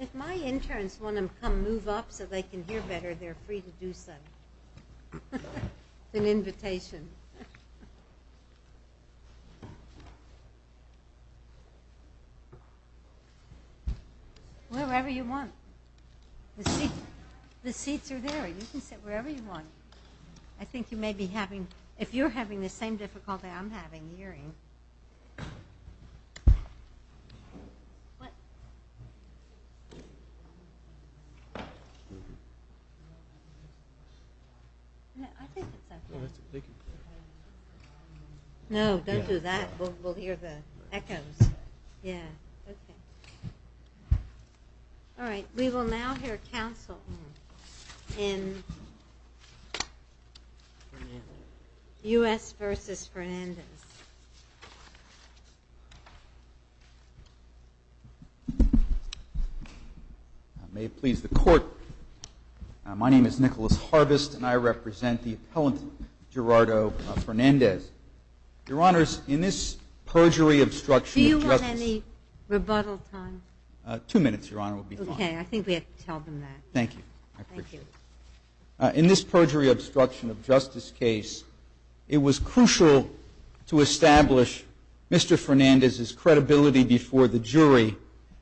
If my interns want to come move up so they can hear better, they are free to do so. It is an invitation. Wherever you want. The seats are there. You can sit wherever you want. I think you may be having, if you're having the same difficulty I'm having hearing. No, don't do that. We'll hear the echoes. We will now hear counsel in U.S. v. Fernandez. May it please the court, my name is Nicholas Harvest and I represent the appellant Gerardo Fernandez. Your Honor, in this perjury obstruction of justice case, it was crucial to establish Mr. Fernandez's credibility before the jury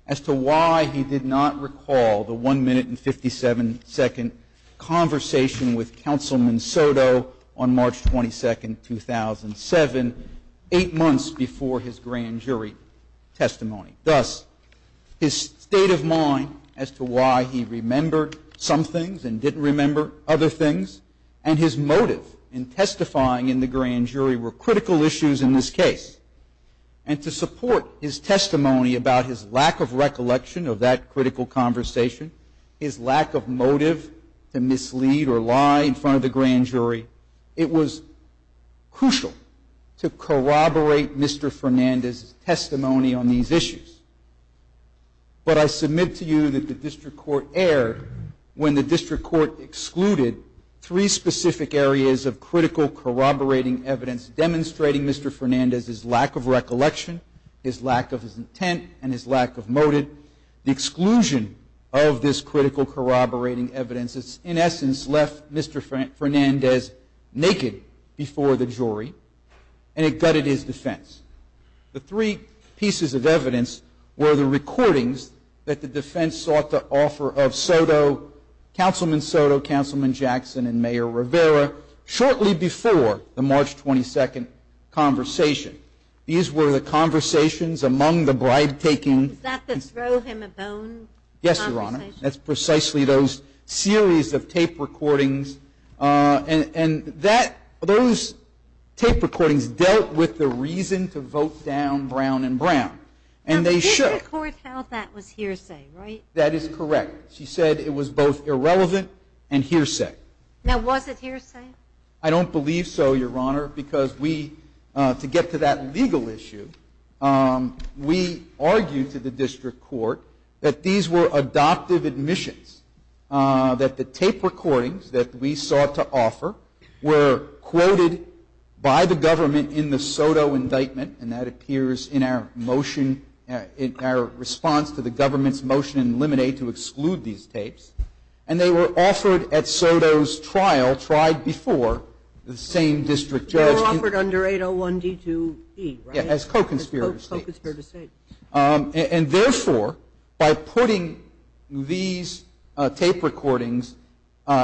as to why he did not recall the 1 minute and 57 second conversation with Counselman Soto on March 22, 2000. Eight months before his grand jury testimony. Thus, his state of mind as to why he remembered some things and didn't remember other things and his motive in testifying in the grand jury were critical issues in this case. And to support his testimony about his lack of recollection of that critical conversation, his lack of motive to mislead or lie in front of the grand jury, it was crucial to corroborate Mr. Fernandez's testimony on these issues. But I submit to you that the district court erred when the district court excluded three specific areas of critical corroborating evidence demonstrating Mr. Fernandez's lack of recollection, his lack of intent, and his lack of motive. The exclusion of this critical corroborating evidence in essence left Mr. Fernandez naked before the jury and it gutted his defense. The three pieces of evidence were the recordings that the defense sought to offer of Soto, Counselman Soto, Counselman Jackson, and Mayor Rivera shortly before the March 22nd conversation. These were the conversations among the bribe taking. Is that the throw him a bone conversation? That's precisely those series of tape recordings. And that, those tape recordings dealt with the reason to vote down Brown and Brown. And they should. Now the district court held that was hearsay, right? That is correct. She said it was both irrelevant and hearsay. Now was it hearsay? I don't believe so, Your Honor, because we, to get to that legal issue, we argued to the district court that these were adoptive admissions. That the tape recordings that we sought to offer were quoted by the government in the Soto indictment. And that appears in our motion, in our response to the government's motion in Lemonade to exclude these tapes. And they were offered at Soto's trial, tried before the same district judge. They were offered under 801D2E, right? Yeah, as co-conspirator states. As co-conspirator states. And therefore, by putting these tape recordings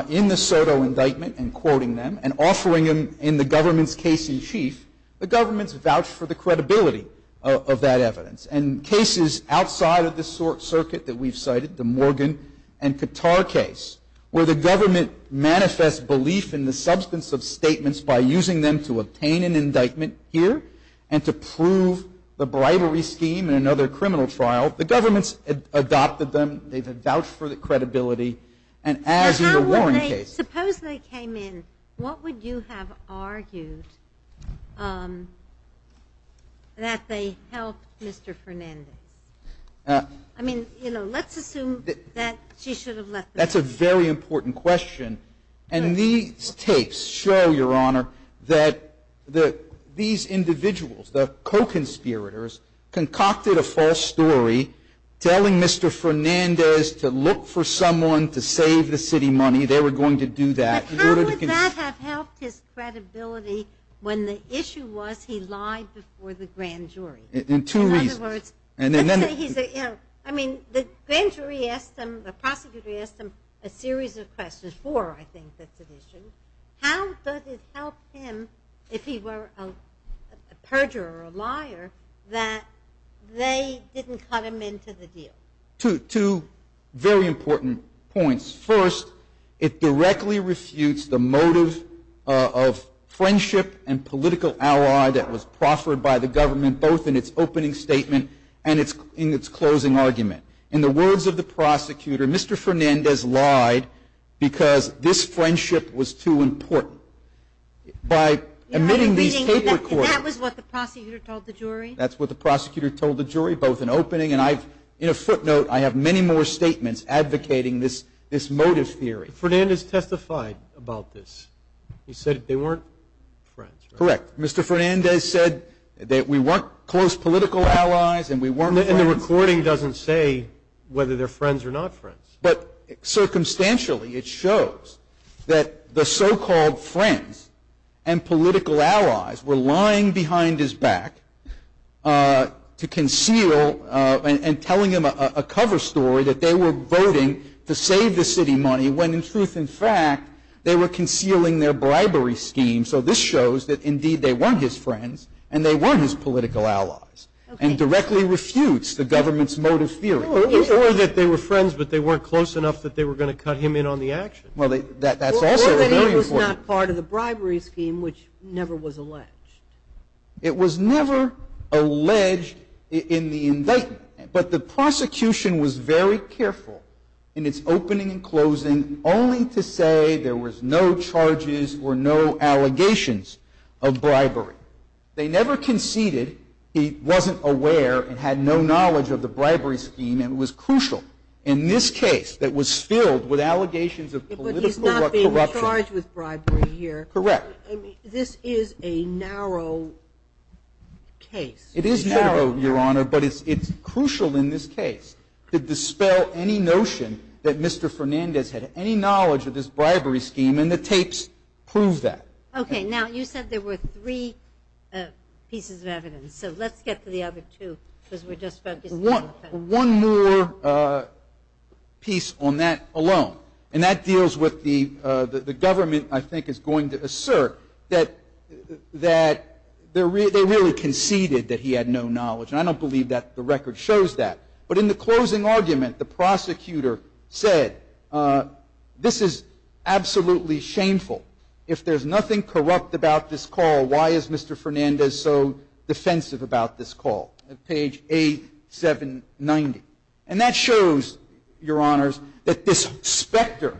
in the Soto indictment and quoting them and offering them in the government's case in chief, the government's vouched for the credibility of that evidence. And cases outside of this circuit that we've cited, the Morgan and Qatar case, where the government manifests belief in the substance of statements by using them to obtain an indictment here and to prove the bribery scheme in another criminal trial, the government's adopted them. They've had vouched for the credibility. And as in the Warren case. Suppose they came in. What would you have argued that they helped Mr. Fernandez? I mean, you know, let's assume that she should have let them go. That's a very important question. And these tapes show, Your Honor, that these individuals, the co-conspirators, concocted a false story telling Mr. Fernandez to look for someone to save the city money. They were going to do that. But how would that have helped his credibility when the issue was he lied before the grand jury? In two reasons. I mean, the grand jury asked him, the prosecutor asked him a series of questions. Four, I think, that's an issue. How does it help him if he were a perjurer or a liar that they didn't cut him into the deal? Two very important points. First, it directly refutes the motive of friendship and political ally that was proffered by the government, both in its opening statement and in its closing argument. In the words of the prosecutor, Mr. Fernandez lied because this friendship was too important. By omitting these tape recorders. And that was what the prosecutor told the jury? That's what the prosecutor told the jury, both in opening. And in a footnote, I have many more statements advocating this motive theory. Fernandez testified about this. He said they weren't friends. Correct. Mr. Fernandez said that we weren't close political allies and we weren't friends. And the recording doesn't say whether they're friends or not friends. But circumstantially, it shows that the so-called friends and political allies were lying behind his back to conceal and telling him a cover story that they were voting to save the city money when, in truth and fact, they were concealing their bribery scheme. So this shows that, indeed, they weren't his friends and they weren't his political allies. And directly refutes the government's motive theory. Or that they were friends but they weren't close enough that they were going to cut him in on the action. Well, that's also very important. Or that he was not part of the bribery scheme, which never was alleged. It was never alleged in the indictment. But the prosecution was very careful in its opening and closing only to say there was no charges or no allegations of bribery. They never conceded he wasn't aware and had no knowledge of the bribery scheme. And it was crucial in this case that was filled with allegations of political corruption. But he's not being charged with bribery here. Correct. This is a narrow case. It is narrow, Your Honor. But it's crucial in this case to dispel any notion that Mr. Fernandez had any knowledge of this bribery scheme. And the tapes prove that. Okay. Now, you said there were three pieces of evidence. So let's get to the other two because we're just focusing on the first. One more piece on that alone. And that deals with the government, I think, is going to assert that they really conceded that he had no knowledge. And I don't believe that the record shows that. But in the closing argument, the prosecutor said, this is absolutely shameful. If there's nothing corrupt about this call, why is Mr. Fernandez so defensive about this call? Page A790. And that shows, Your Honors, that this specter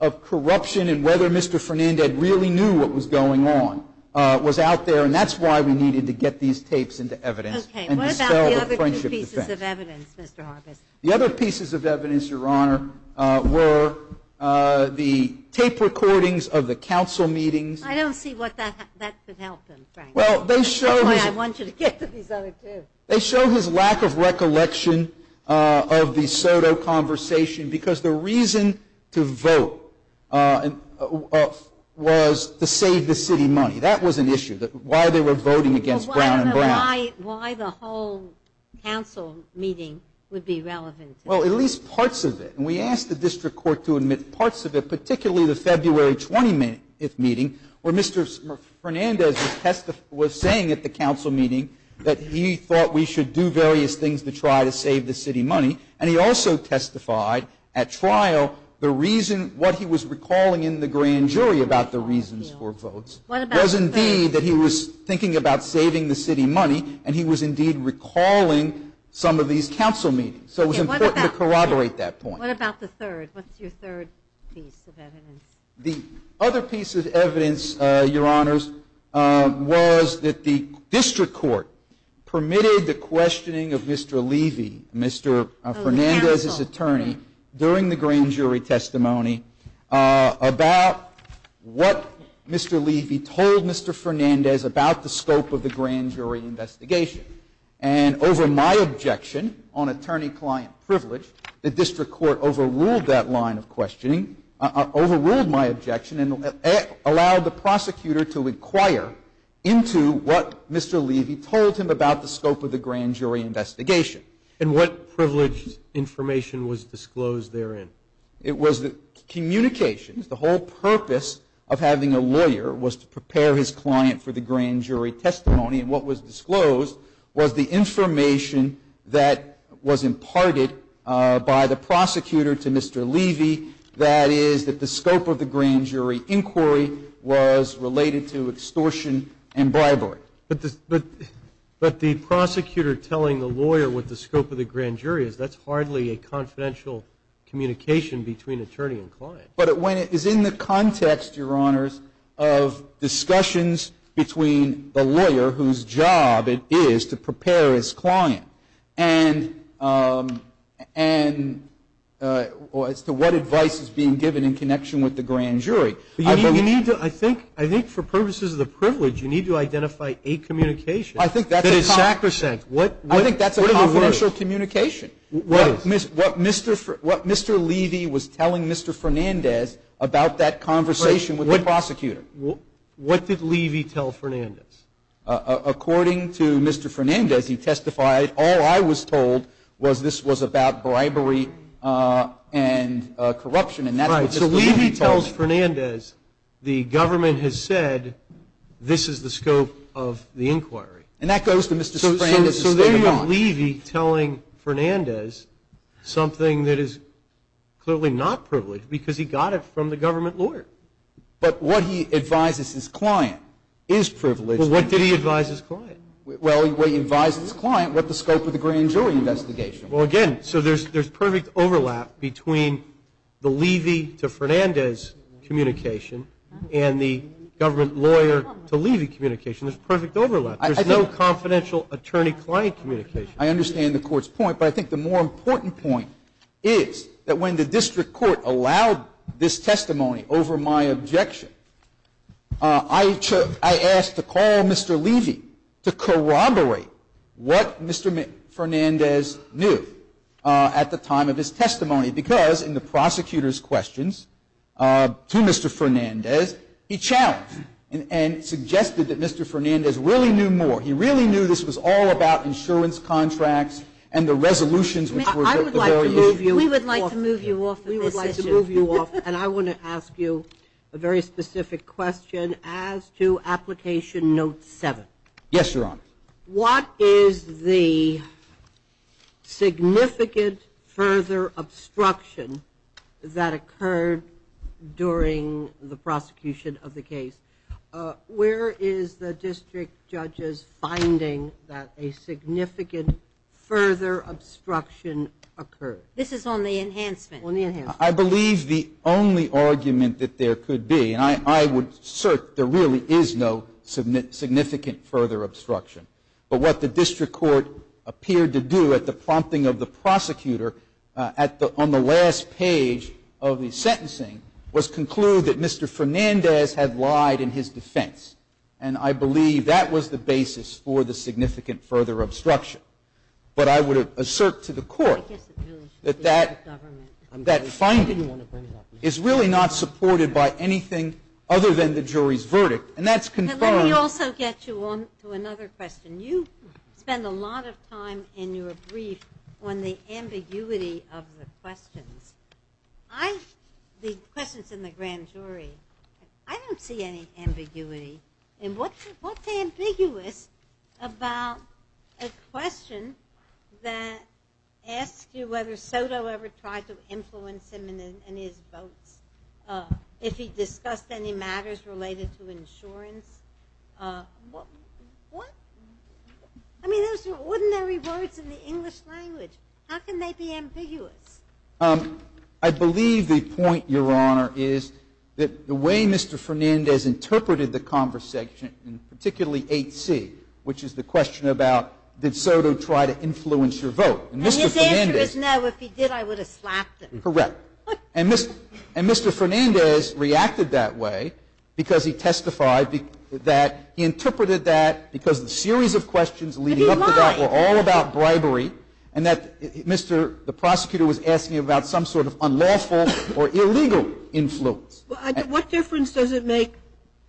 of corruption and whether Mr. Fernandez really knew what was going on was out there. And that's why we needed to get these tapes into evidence and dispel the friendship defense. Okay. What about the other two pieces of evidence, Mr. Harvis? The other pieces of evidence, Your Honor, were the tape recordings of the council meetings. I don't see what that could help them, Frank. That's why I want you to get to these other two. They show his lack of recollection of the Soto conversation because the reason to vote was to save the city money. That was an issue, why they were voting against Brown and Brown. Why the whole council meeting would be relevant? Well, at least parts of it. And we asked the district court to admit parts of it, particularly the February 20th meeting, where Mr. Fernandez was saying at the council meeting that he thought we should do various things to try to save the city money. And he also testified at trial what he was recalling in the grand jury about the reasons for votes. It was indeed that he was thinking about saving the city money, and he was indeed recalling some of these council meetings. So it was important to corroborate that point. What about the third? What's your third piece of evidence? The other piece of evidence, Your Honors, was that the district court permitted the questioning of Mr. Levy, Mr. Fernandez's attorney, during the grand jury testimony about what Mr. Levy told Mr. Fernandez about the scope of the grand jury investigation. And over my objection on attorney-client privilege, the district court overruled that line of questioning, overruled my objection and allowed the prosecutor to inquire into what Mr. Levy told him about the scope of the grand jury investigation. And what privileged information was disclosed therein? It was communications. The whole purpose of having a lawyer was to prepare his client for the grand jury testimony, and what was disclosed was the information that was imparted by the prosecutor to Mr. Levy, that is that the scope of the grand jury inquiry was related to extortion and bribery. But the prosecutor telling the lawyer what the scope of the grand jury is, that's hardly a confidential communication between attorney and client. But when it is in the context, Your Honors, of discussions between the lawyer, whose job it is to prepare his client, and as to what advice is being given in connection with the grand jury. I think for purposes of the privilege, you need to identify a communication that is sacrosanct. I think that's a confidential communication. What Mr. Levy was telling Mr. Fernandez about that conversation with the prosecutor. What did Levy tell Fernandez? According to Mr. Fernandez, he testified, all I was told was this was about bribery and corruption. So Levy tells Fernandez, the government has said this is the scope of the inquiry. And that goes to Mr. Sprague. So there you have Levy telling Fernandez something that is clearly not privileged because he got it from the government lawyer. But what he advised his client is privileged. Well, what did he advise his client? Well, he advised his client what the scope of the grand jury investigation was. Well, again, so there's perfect overlap between the Levy to Fernandez communication and the government lawyer to Levy communication. There's perfect overlap. There's no confidential attorney-client communication. I understand the Court's point. But I think the more important point is that when the district court allowed this testimony over my objection, I asked to call Mr. Levy to corroborate what Mr. Fernandez knew at the time of his testimony. Because in the prosecutor's questions to Mr. Fernandez, he challenged and suggested that Mr. Fernandez really knew more. He really knew this was all about insurance contracts and the resolutions. I would like to move you off of here. We would like to move you off of this issue. We would like to move you off. And I want to ask you a very specific question as to Application Note 7. Yes, Your Honor. What is the significant further obstruction that occurred during the prosecution of the case? Where is the district judge's finding that a significant further obstruction occurred? This is on the enhancement. On the enhancement. I believe the only argument that there could be, and I would assert there really is no significant further obstruction. But what the district court appeared to do at the prompting of the prosecutor on the last page of the sentencing was conclude that Mr. Fernandez had lied in his defense. And I believe that was the basis for the significant further obstruction. But I would assert to the court that that finding is really not supported by anything other than the jury's verdict. And that's confirmed. Let me also get you on to another question. You spend a lot of time in your brief on the ambiguity of the questions. The questions in the grand jury, I don't see any ambiguity. And what's ambiguous about a question that asks you whether Soto ever tried to influence him in his votes? If he discussed any matters related to insurance? What? I mean, those are ordinary words in the English language. How can they be ambiguous? I believe the point, Your Honor, is that the way Mr. Fernandez interpreted the conversation, and particularly 8C, which is the question about did Soto try to influence your vote. And his answer is no. If he did, I would have slapped him. Correct. And Mr. Fernandez reacted that way because he testified that he interpreted that because the series of questions leading up to that were all about bribery. And that the prosecutor was asking about some sort of unlawful or illegal influence. What difference does it make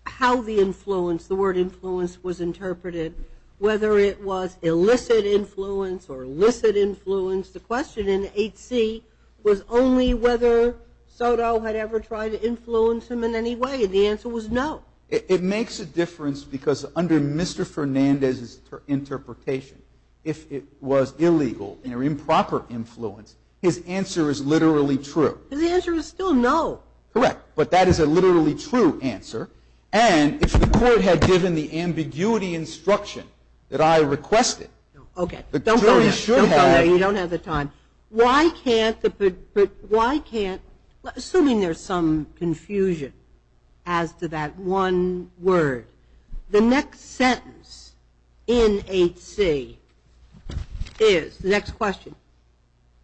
how the influence, the word influence, was interpreted, whether it was illicit influence or illicit influence? The question in 8C was only whether Soto had ever tried to influence him in any way, and the answer was no. It makes a difference because under Mr. Fernandez's interpretation, if it was illegal or improper influence, his answer is literally true. His answer is still no. Correct. But that is a literally true answer. And if the court had given the ambiguity instruction that I requested, the jury should have. Okay. Don't go there. You don't have the time. But why can't, assuming there's some confusion as to that one word, the next sentence in 8C is, the next question,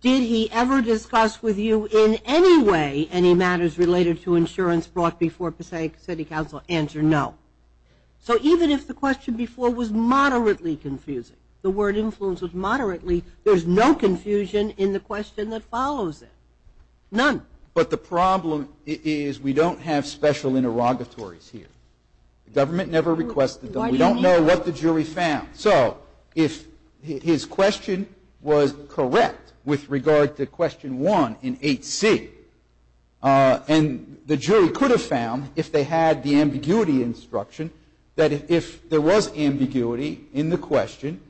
did he ever discuss with you in any way any matters related to insurance brought before Passaic City Council? Answer no. So even if the question before was moderately confusing, the word influence was moderately, there's no confusion in the question that follows it. None. But the problem is we don't have special interrogatories here. The government never requested them. We don't know what the jury found. So if his question was correct with regard to question 1 in 8C, and the jury could have found if they had the ambiguity instruction that if there was ambiguity in the question,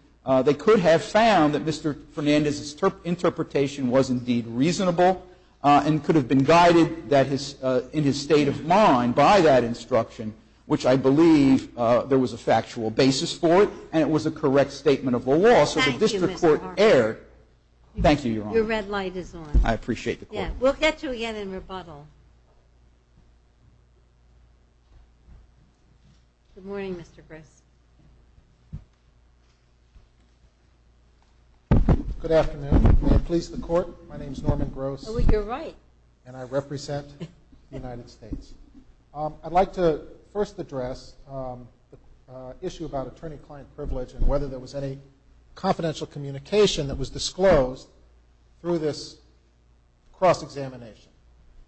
they could have found that Mr. Fernandez's interpretation was indeed reasonable and could have been guided in his state of mind by that instruction, which I believe there was a factual basis for it, and it was a correct statement of the law. So the district court erred. Thank you, Your Honor. Your red light is on. I appreciate the call. Yeah. We'll get you again in rebuttal. Good morning, Mr. Gross. Good afternoon. May it please the Court, my name is Norman Gross. Oh, you're right. And I represent the United States. I'd like to first address the issue about attorney-client privilege and whether there was any confidential communication that was disclosed through this cross-examination.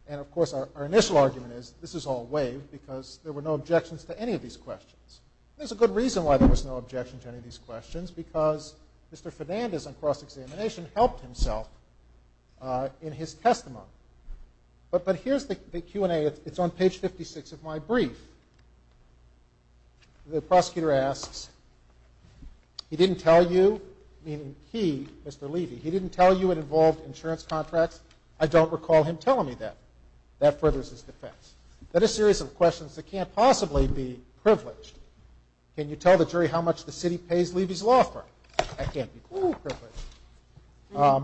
And, of course, our initial argument is this is all waived because there were no objections to any of these questions. There's a good reason why there was no objection to any of these questions, because Mr. Fernandez on cross-examination helped himself in his testimony. But here's the Q&A. It's on page 56 of my brief. The prosecutor asks, he didn't tell you, meaning he, Mr. Levy, he didn't tell you it involved insurance contracts. I don't recall him telling me that. That furthers his defense. That is a series of questions that can't possibly be privileged. Can you tell the jury how much the city pays Levy's law firm? That can't be privileged.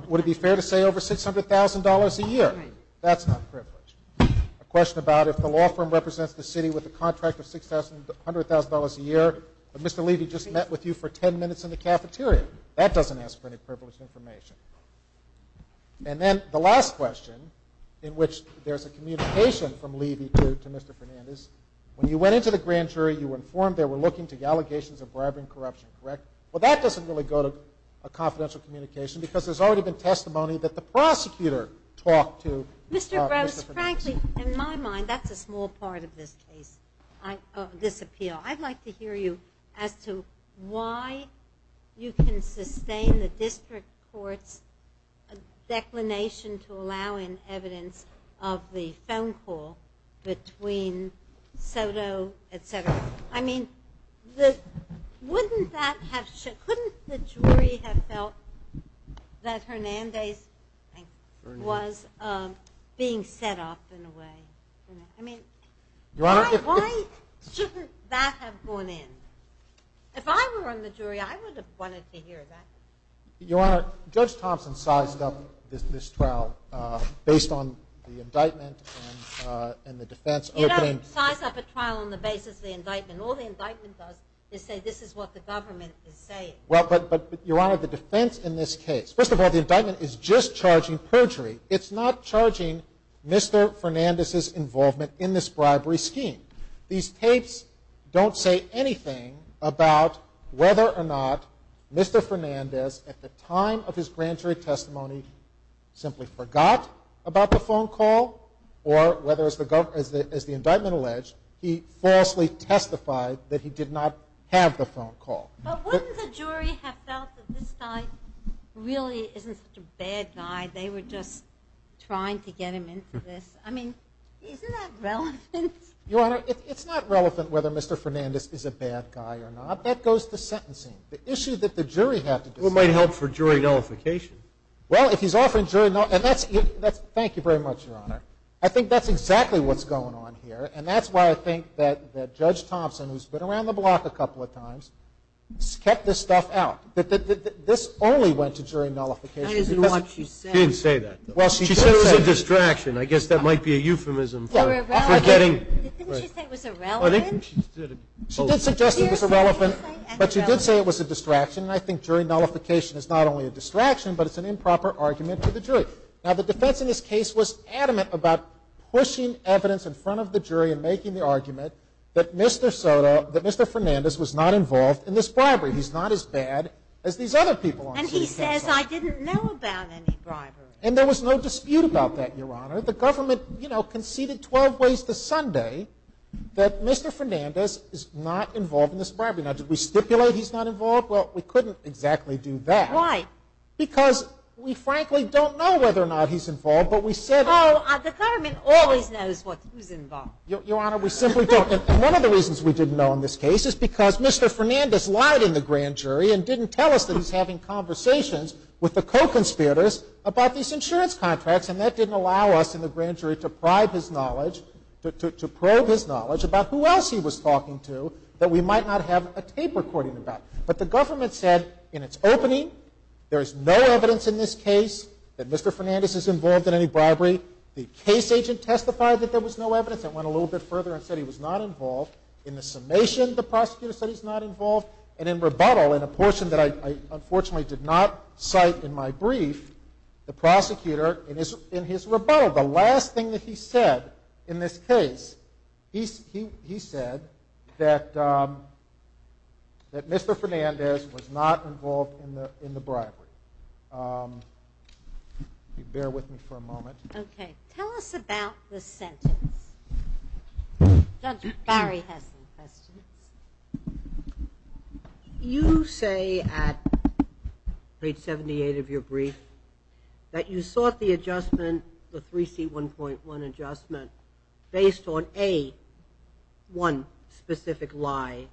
Would it be fair to say over $600,000 a year? That's not privileged. A question about if the law firm represents the city with a contract of $600,000 a year, but Mr. Levy just met with you for 10 minutes in the cafeteria. That doesn't ask for any privileged information. And then the last question, in which there's a communication from Levy to Mr. Fernandez, when you went into the grand jury, you were informed they were looking to allegations of bribery and corruption, correct? Well, that doesn't really go to a confidential communication, because there's already been testimony that the prosecutor talked to Mr. Fernandez. Mr. Gross, frankly, in my mind, that's a small part of this case, this appeal. I'd like to hear you as to why you can sustain the district court's declination to allow in evidence of the phone call between Soto, et cetera. I mean, couldn't the jury have felt that Fernandez was being set up in a way? I mean, why shouldn't that have gone in? If I were on the jury, I would have wanted to hear that. Your Honor, Judge Thompson sized up this trial based on the indictment and the defense opening. You don't size up a trial on the basis of the indictment. All the indictment does is say this is what the government is saying. But, Your Honor, the defense in this case, first of all, the indictment is just charging perjury. It's not charging Mr. Fernandez's involvement in this bribery scheme. These tapes don't say anything about whether or not Mr. Fernandez, at the time of his grand jury testimony, simply forgot about the phone call or whether, as the indictment alleged, he falsely testified that he did not have the phone call. But wouldn't the jury have felt that this guy really isn't such a bad guy? They were just trying to get him into this. I mean, isn't that relevant? Your Honor, it's not relevant whether Mr. Fernandez is a bad guy or not. That goes to sentencing. The issue that the jury has to decide. Well, it might help for jury nullification. Well, if he's offering jury nullification. Thank you very much, Your Honor. I think that's exactly what's going on here, and that's why I think that Judge Thompson, who's been around the block a couple of times, kept this stuff out, that this only went to jury nullification. I didn't know what she said. She didn't say that. She said it was a distraction. I guess that might be a euphemism for forgetting. Didn't she say it was irrelevant? She did suggest it was irrelevant, but she did say it was a distraction, and I think jury nullification is not only a distraction, but it's an improper argument to the jury. Now, the defense in this case was adamant about pushing evidence in front of the jury and making the argument that Mr. Soto, that Mr. Fernandez, was not involved in this bribery. He's not as bad as these other people on jury testimony. And he says, I didn't know about any bribery. And there was no dispute about that, Your Honor. The government, you know, conceded 12 ways to Sunday that Mr. Fernandez is not involved in this bribery. Now, did we stipulate he's not involved? Well, we couldn't exactly do that. Why? Because we frankly don't know whether or not he's involved, but we said it. Oh, the government always knows what he's involved in. Your Honor, we simply don't. And one of the reasons we didn't know in this case is because Mr. Fernandez lied in the grand jury and didn't tell us that he's having conversations with the co-conspirators about these insurance contracts, and that didn't allow us in the grand jury to probe his knowledge about who else he was talking to that we might not have a tape recording about. But the government said in its opening there is no evidence in this case that Mr. Fernandez is involved in any bribery. The case agent testified that there was no evidence. It went a little bit further and said he was not involved. In the summation, the prosecutor said he's not involved, and in rebuttal in a portion that I unfortunately did not cite in my brief, the prosecutor in his rebuttal, the last thing that he said in this case, he said that Mr. Fernandez was not involved in the bribery. Bear with me for a moment. Okay. Tell us about the sentence. Judge Barry has some questions. You say at page 78 of your brief that you sought the adjustment, the 3C1.1 adjustment, based on A, one specific lie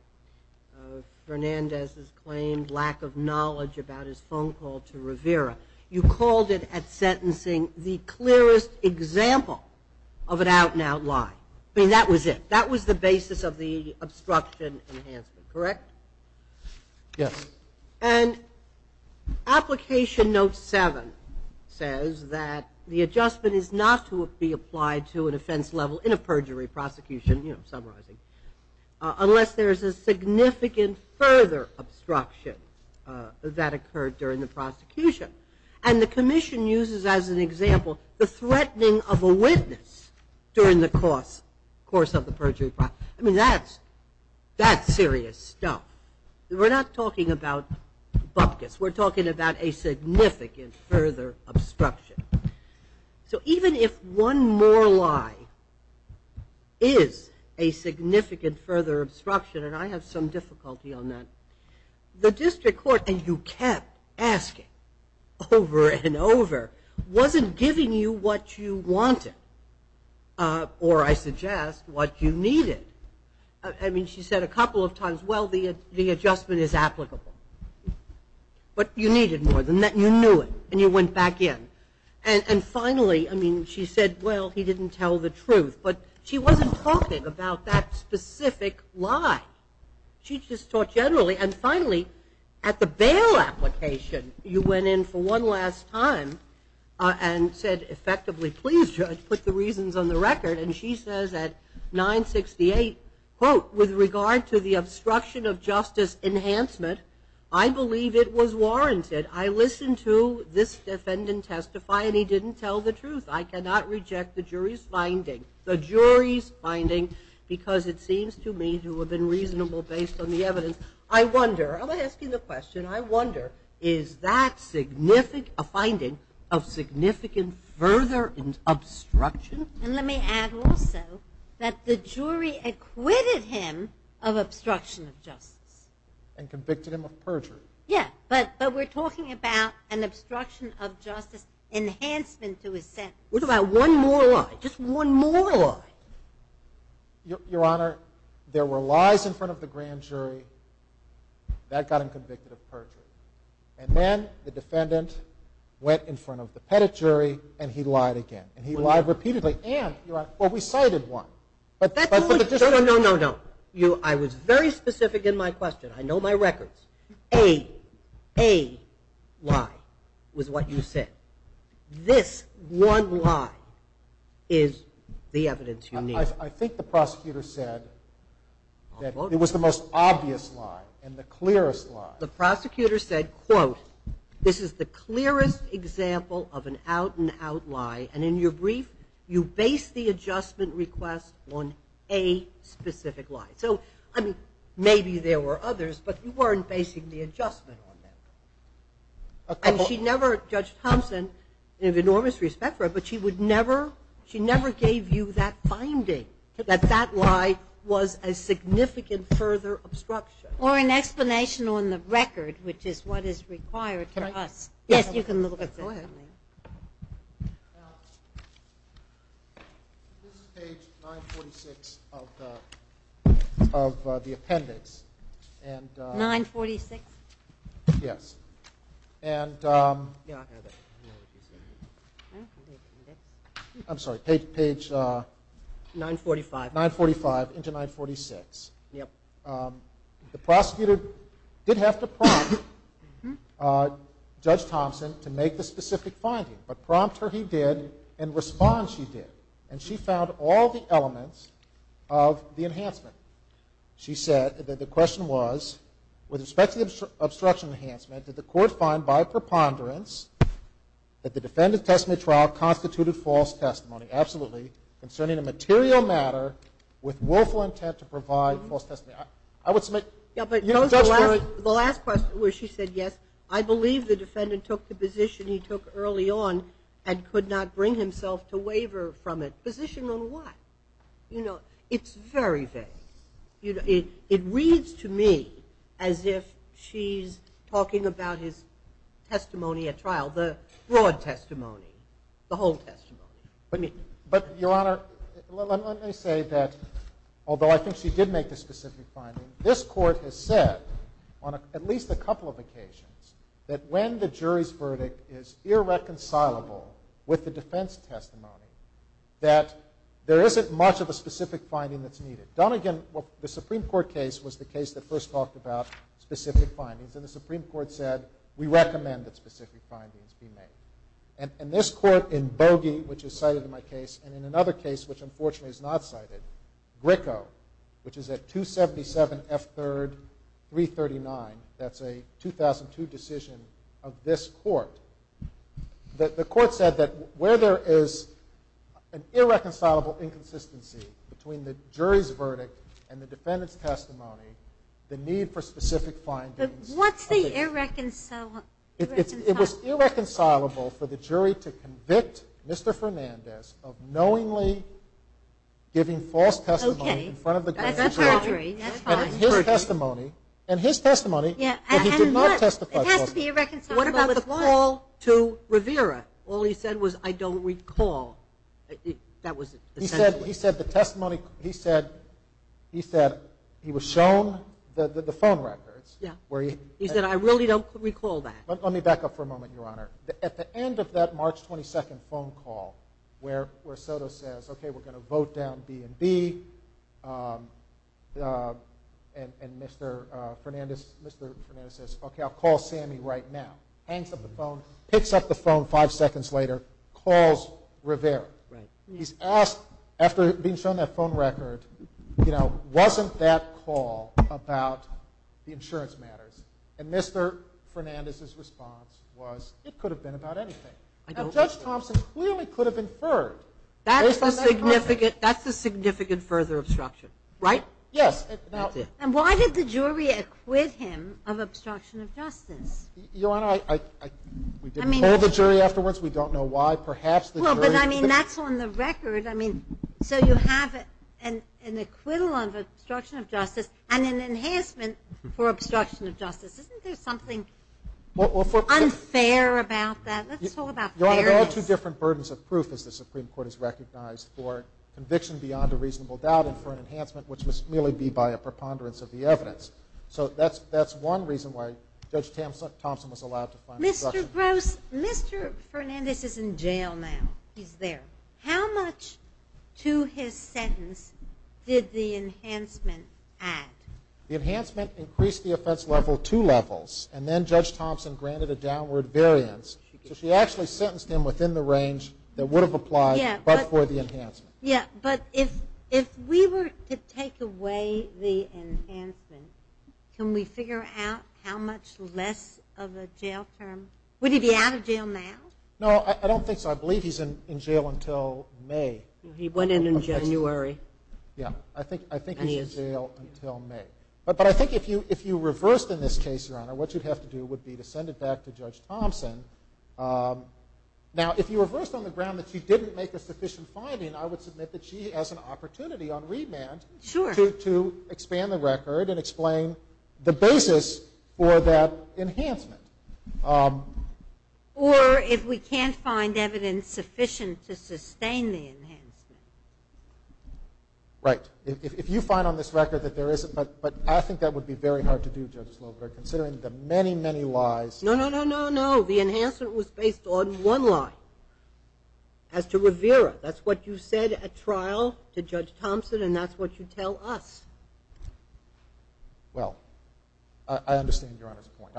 of Fernandez's claimed lack of knowledge about his phone call to Rivera. You called it at sentencing the clearest example of an out-and-out lie. I mean, that was it. That was the basis of the obstruction enhancement, correct? Yes. And application note 7 says that the adjustment is not to be applied to an offense level in a perjury prosecution, unless there is a significant further obstruction that occurred during the prosecution. And the commission uses as an example the threatening of a witness during the course of the perjury trial. I mean, that's serious stuff. We're not talking about bupkis. We're talking about a significant further obstruction. So even if one more lie is a significant further obstruction, and I have some difficulty on that, the district court, and you kept asking over and over, wasn't giving you what you wanted, or, I suggest, what you needed. I mean, she said a couple of times, well, the adjustment is applicable. But you needed more than that, and you knew it, and you went back in. And finally, I mean, she said, well, he didn't tell the truth. But she wasn't talking about that specific lie. She just talked generally. And finally, at the bail application, you went in for one last time and said, effectively, please, judge, put the reasons on the record. And she says at 968, quote, with regard to the obstruction of justice enhancement, I believe it was warranted. I listened to this defendant testify, and he didn't tell the truth. I cannot reject the jury's finding because it seems to me to have been reasonable based on the evidence. I wonder, I'm asking the question, I wonder, is that a finding of significant further obstruction? And let me add also that the jury acquitted him of obstruction of justice. And convicted him of perjury. Yeah, but we're talking about an obstruction of justice enhancement to his sentence. What about one more lie, just one more lie? Your Honor, there were lies in front of the grand jury. That got him convicted of perjury. And then the defendant went in front of the pettit jury, and he lied again. And he lied repeatedly. And, Your Honor, well, we cited one. No, no, no, no. I was very specific in my question. I know my records. A lie was what you said. This one lie is the evidence you need. I think the prosecutor said that it was the most obvious lie and the clearest lie. The prosecutor said, quote, this is the clearest example of an out-and-out lie. And in your brief, you base the adjustment request on a specific lie. So, I mean, maybe there were others, but you weren't basing the adjustment on them. And Judge Thompson, I have enormous respect for her, but she never gave you that finding, that that lie was a significant further obstruction. Or an explanation on the record, which is what is required for us. Can I? Yes, you can look at that. Go ahead. This is page 946 of the appendix. 946? Yes. And I'm sorry, page 945 into 946. The prosecutor did have to prompt Judge Thompson to make the specific finding. But prompt her he did, and respond she did. And she found all the elements of the enhancement. She said that the question was, with respect to the obstruction enhancement, did the court find by preponderance that the defendant's testimony trial constituted false testimony? Absolutely. Concerning a material matter with willful intent to provide false testimony. I would submit. Yeah, but the last question where she said yes, I believe the defendant took the position he took early on and could not bring himself to waver from it. Position on what? You know, it's very vague. It reads to me as if she's talking about his testimony at trial, the broad testimony, the whole testimony. But, Your Honor, let me say that, although I think she did make the specific finding, this court has said on at least a couple of occasions, that when the jury's verdict is irreconcilable with the defense testimony, that there isn't much of a specific finding that's needed. Done again, the Supreme Court case was the case that first talked about specific findings, and the Supreme Court said, we recommend that specific findings be made. And this court in Bogie, which is cited in my case, and in another case, which unfortunately is not cited, Gricko, which is at 277 F. 3rd, 339, that's a 2002 decision of this court, the court said that where there is an irreconcilable inconsistency between the jury's verdict and the defendant's testimony, the need for specific findings. But what's the irreconcilable? It was irreconcilable for the jury to convict Mr. Fernandez of knowingly giving false testimony in front of the grand jury, and his testimony, and he did not testify falsely. What about the call to Rivera? All he said was, I don't recall. He said the testimony, he said he was shown the phone records. He said, I really don't recall that. Let me back up for a moment, Your Honor. At the end of that March 22nd phone call where Soto says, okay, we're going to vote down B&B, and Mr. Fernandez says, okay, I'll call Sammy right now, hangs up the phone, picks up the phone five seconds later, calls Rivera. He's asked, after being shown that phone record, wasn't that call about the insurance matters? And Mr. Fernandez's response was, it could have been about anything. Now, Judge Thompson clearly could have inferred based on that call. That's a significant further obstruction, right? Yes. And why did the jury acquit him of obstruction of justice? Your Honor, we didn't call the jury afterwards. We don't know why. Well, but, I mean, that's on the record. I mean, so you have an acquittal of obstruction of justice and an enhancement for obstruction of justice. Isn't there something unfair about that? Let's talk about fairness. Your Honor, there are two different burdens of proof, as the Supreme Court has recognized, for conviction beyond a reasonable doubt and for an enhancement which must merely be by a preponderance of the evidence. So that's one reason why Judge Thompson was allowed to find obstruction. Mr. Gross, Mr. Fernandez is in jail now. He's there. How much to his sentence did the enhancement add? The enhancement increased the offense level two levels, and then Judge Thompson granted a downward variance. So she actually sentenced him within the range that would have applied, but for the enhancement. Yeah, but if we were to take away the enhancement, can we figure out how much less of a jail term? Would he be out of jail now? No, I don't think so. I believe he's in jail until May. He went in in January. Yeah, I think he's in jail until May. But I think if you reversed in this case, Your Honor, what you'd have to do would be to send it back to Judge Thompson. Now, if you reversed on the ground that she didn't make a sufficient finding, I would submit that she has an opportunity on remand to expand the record and explain the basis for that enhancement. Or if we can't find evidence sufficient to sustain the enhancement. Right. If you find on this record that there is, but I think that would be very hard to do, Judge Slover, considering the many, many lies. No, no, no, no, no. The enhancement was based on one lie, as to Rivera. That's what you said at trial to Judge Thompson, and that's what you tell us. Well, I understand Your Honor's point.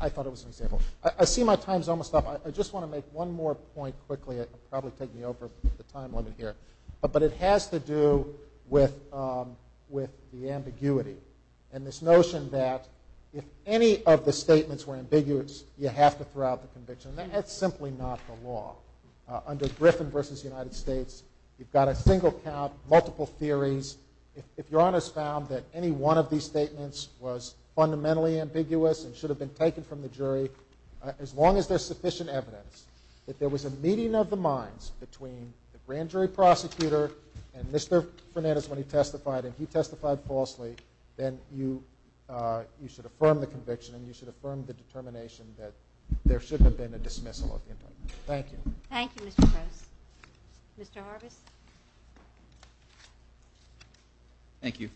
I thought it was an example. I see my time is almost up. I just want to make one more point quickly. It will probably take me over the time limit here. But it has to do with the ambiguity and this notion that if any of the statements were ambiguous, you have to throw out the conviction. That's simply not the law. Under Griffin v. United States, you've got a single count, multiple theories. If Your Honor's found that any one of these statements was fundamentally ambiguous and should have been taken from the jury, as long as there's sufficient evidence that there was a meeting of the minds between the grand jury prosecutor and Mr. Fernandez when he testified, and he testified falsely, then you should affirm the conviction and you should affirm the determination that there should have been a dismissal. Thank you. Thank you, Mr. Gross. Mr. Harvis. Thank you.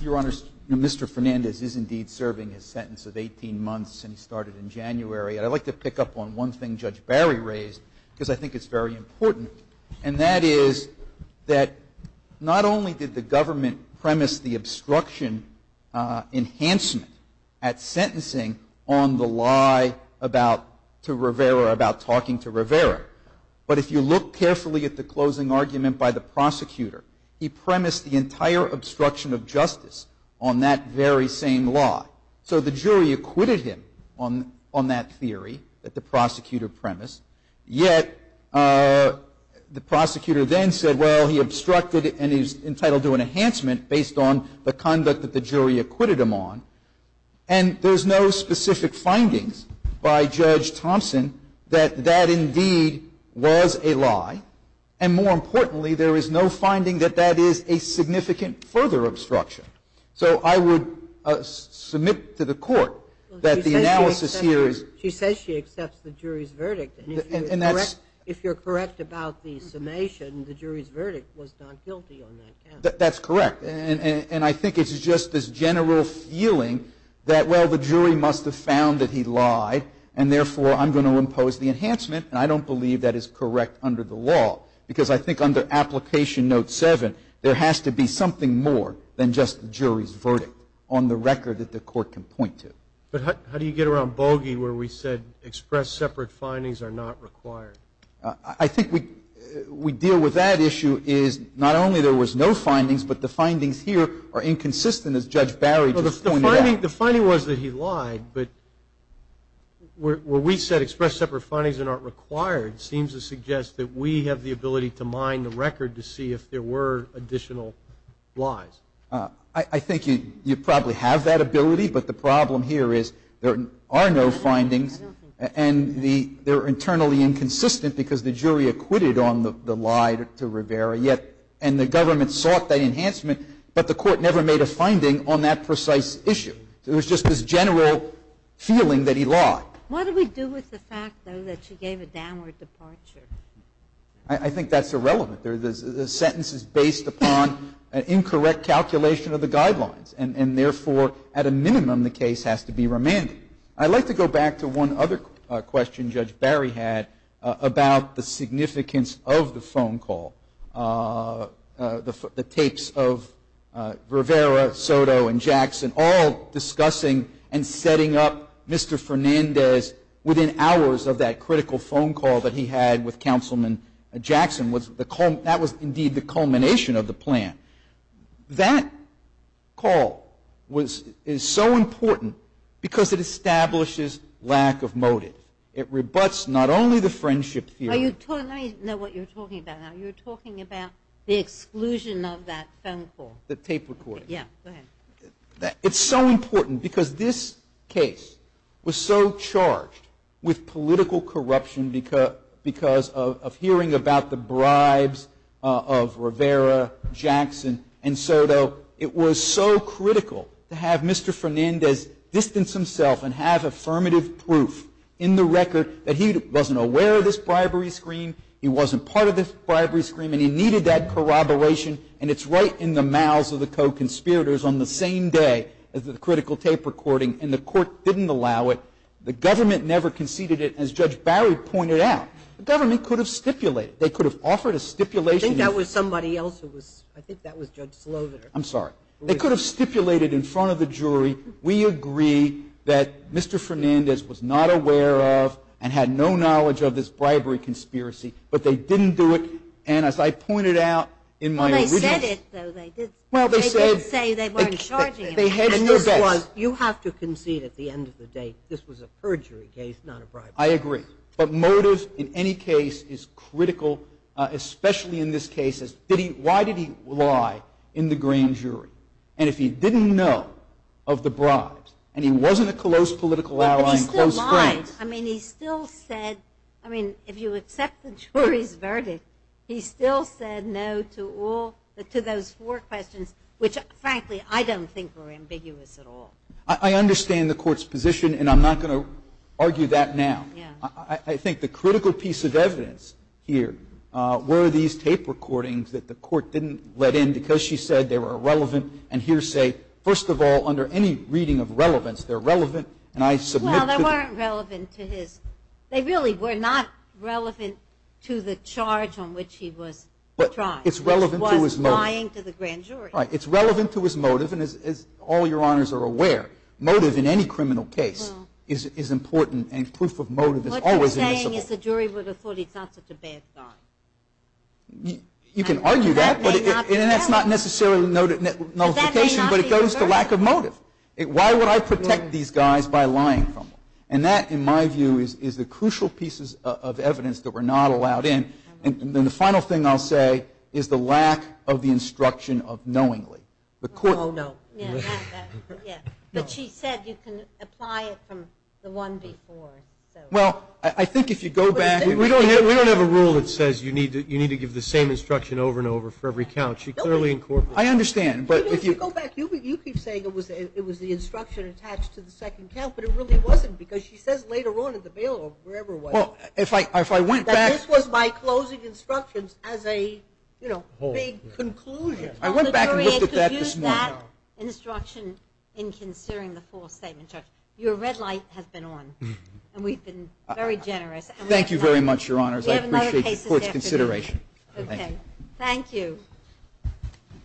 Your Honor, Mr. Fernandez is indeed serving his sentence of 18 months, and he started in January. I'd like to pick up on one thing Judge Barry raised because I think it's very important, and that is that not only did the government premise the obstruction enhancement at sentencing on the lie about talking to Rivera, but if you look carefully at the closing argument by the prosecutor, he premised the entire obstruction of justice on that very same lie. So the jury acquitted him on that theory that the prosecutor premised, yet the prosecutor then said, well, he obstructed and he was entitled to an enhancement based on the conduct that the jury acquitted him on, and there's no specific findings by Judge Thompson that that indeed was a lie, and more importantly, there is no finding that that is a significant further obstruction. So I would submit to the Court that the analysis here is. She says she accepts the jury's verdict. And that's. If you're correct about the summation, the jury's verdict was not guilty on that count. That's correct. And I think it's just this general feeling that, well, the jury must have found that he lied, and therefore I'm going to impose the enhancement, and I don't believe that is correct under the law because I think under Application Note 7, there has to be something more than just the jury's verdict on the record that the Court can point to. But how do you get around bogey where we said express separate findings are not required? I think we deal with that issue is not only there was no findings, but the findings here are inconsistent, as Judge Barry just pointed out. The finding was that he lied, but where we said express separate findings are not required seems to suggest that we have the ability to mine the record to see if there were additional lies. I think you probably have that ability, but the problem here is there are no findings and they're internally inconsistent because the jury acquitted on the lie to Rivera, and the government sought that enhancement, but the Court never made a finding on that precise issue. It was just this general feeling that he lied. What do we do with the fact, though, that she gave a downward departure? I think that's irrelevant. The sentence is based upon an incorrect calculation of the guidelines, and therefore at a minimum the case has to be remanded. I'd like to go back to one other question Judge Barry had about the significance of the phone call, the tapes of Rivera, Soto, and Jackson, all discussing and setting up Mr. Fernandez within hours of that critical phone call that he had with That was indeed the culmination of the plan. That call is so important because it establishes lack of motive. It rebuts not only the friendship theory. Let me know what you're talking about now. You're talking about the exclusion of that phone call. The tape recording. Yeah, go ahead. It's so important because this case was so charged with political corruption because of hearing about the bribes of Rivera, Jackson, and Soto. It was so critical to have Mr. Fernandez distance himself and have affirmative proof in the record that he wasn't aware of this bribery scheme, he wasn't part of this bribery scheme, and he needed that corroboration, and it's right in the mouths of the co-conspirators on the same day as the critical tape recording, and the court didn't allow it. The government never conceded it, as Judge Barry pointed out. The government could have stipulated. They could have offered a stipulation. I think that was somebody else. I think that was Judge Sloan. I'm sorry. They could have stipulated in front of the jury, we agree that Mr. Fernandez was not aware of and had no knowledge of this bribery conspiracy, but they didn't do it, and as I pointed out in my original Well, they said it, though. They didn't say they weren't charging him. You have to concede at the end of the day this was a perjury case, not a bribery case. I agree, but motive in any case is critical, especially in this case. Why did he lie in the green jury? And if he didn't know of the bribes, and he wasn't a close political ally in close friends. But he still lied. I mean, he still said, I mean, if you accept the jury's verdict, he still said no to all, to those four questions, which, frankly, I don't think were ambiguous at all. I understand the court's position, and I'm not going to argue that now. I think the critical piece of evidence here were these tape recordings that the court didn't let in because she said they were irrelevant and hearsay. First of all, under any reading of relevance, they're relevant, and I submit to the Well, they weren't relevant to his. They really were not relevant to the charge on which he was tried. It's relevant to his motive. Which was lying to the grand jury. Right. It's relevant to his motive, and as all your honors are aware, motive in any criminal case is important, and proof of motive is always initial. What you're saying is the jury would have thought he's not such a bad guy. You can argue that, and that's not necessarily nullification, but it goes to lack of motive. Why would I protect these guys by lying? And that, in my view, is the crucial pieces of evidence that were not allowed in. And then the final thing I'll say is the lack of the instruction of knowingly. Oh, no. Yeah, but she said you can apply it from the one before. Well, I think if you go back. We don't have a rule that says you need to give the same instruction over and over for every count. She clearly incorporated. I understand, but if you go back, you keep saying it was the instruction attached to the second count, but it really wasn't because she says later on in the bail or wherever it was. Well, if I went back. That this was my closing instructions as a, you know, big conclusion. I went back and looked at that this morning. The jury could use that instruction in considering the false statement, Judge. Your red light has been on, and we've been very generous. Thank you very much, your honors. We have another case this afternoon. I appreciate the court's consideration. Okay. Thank you.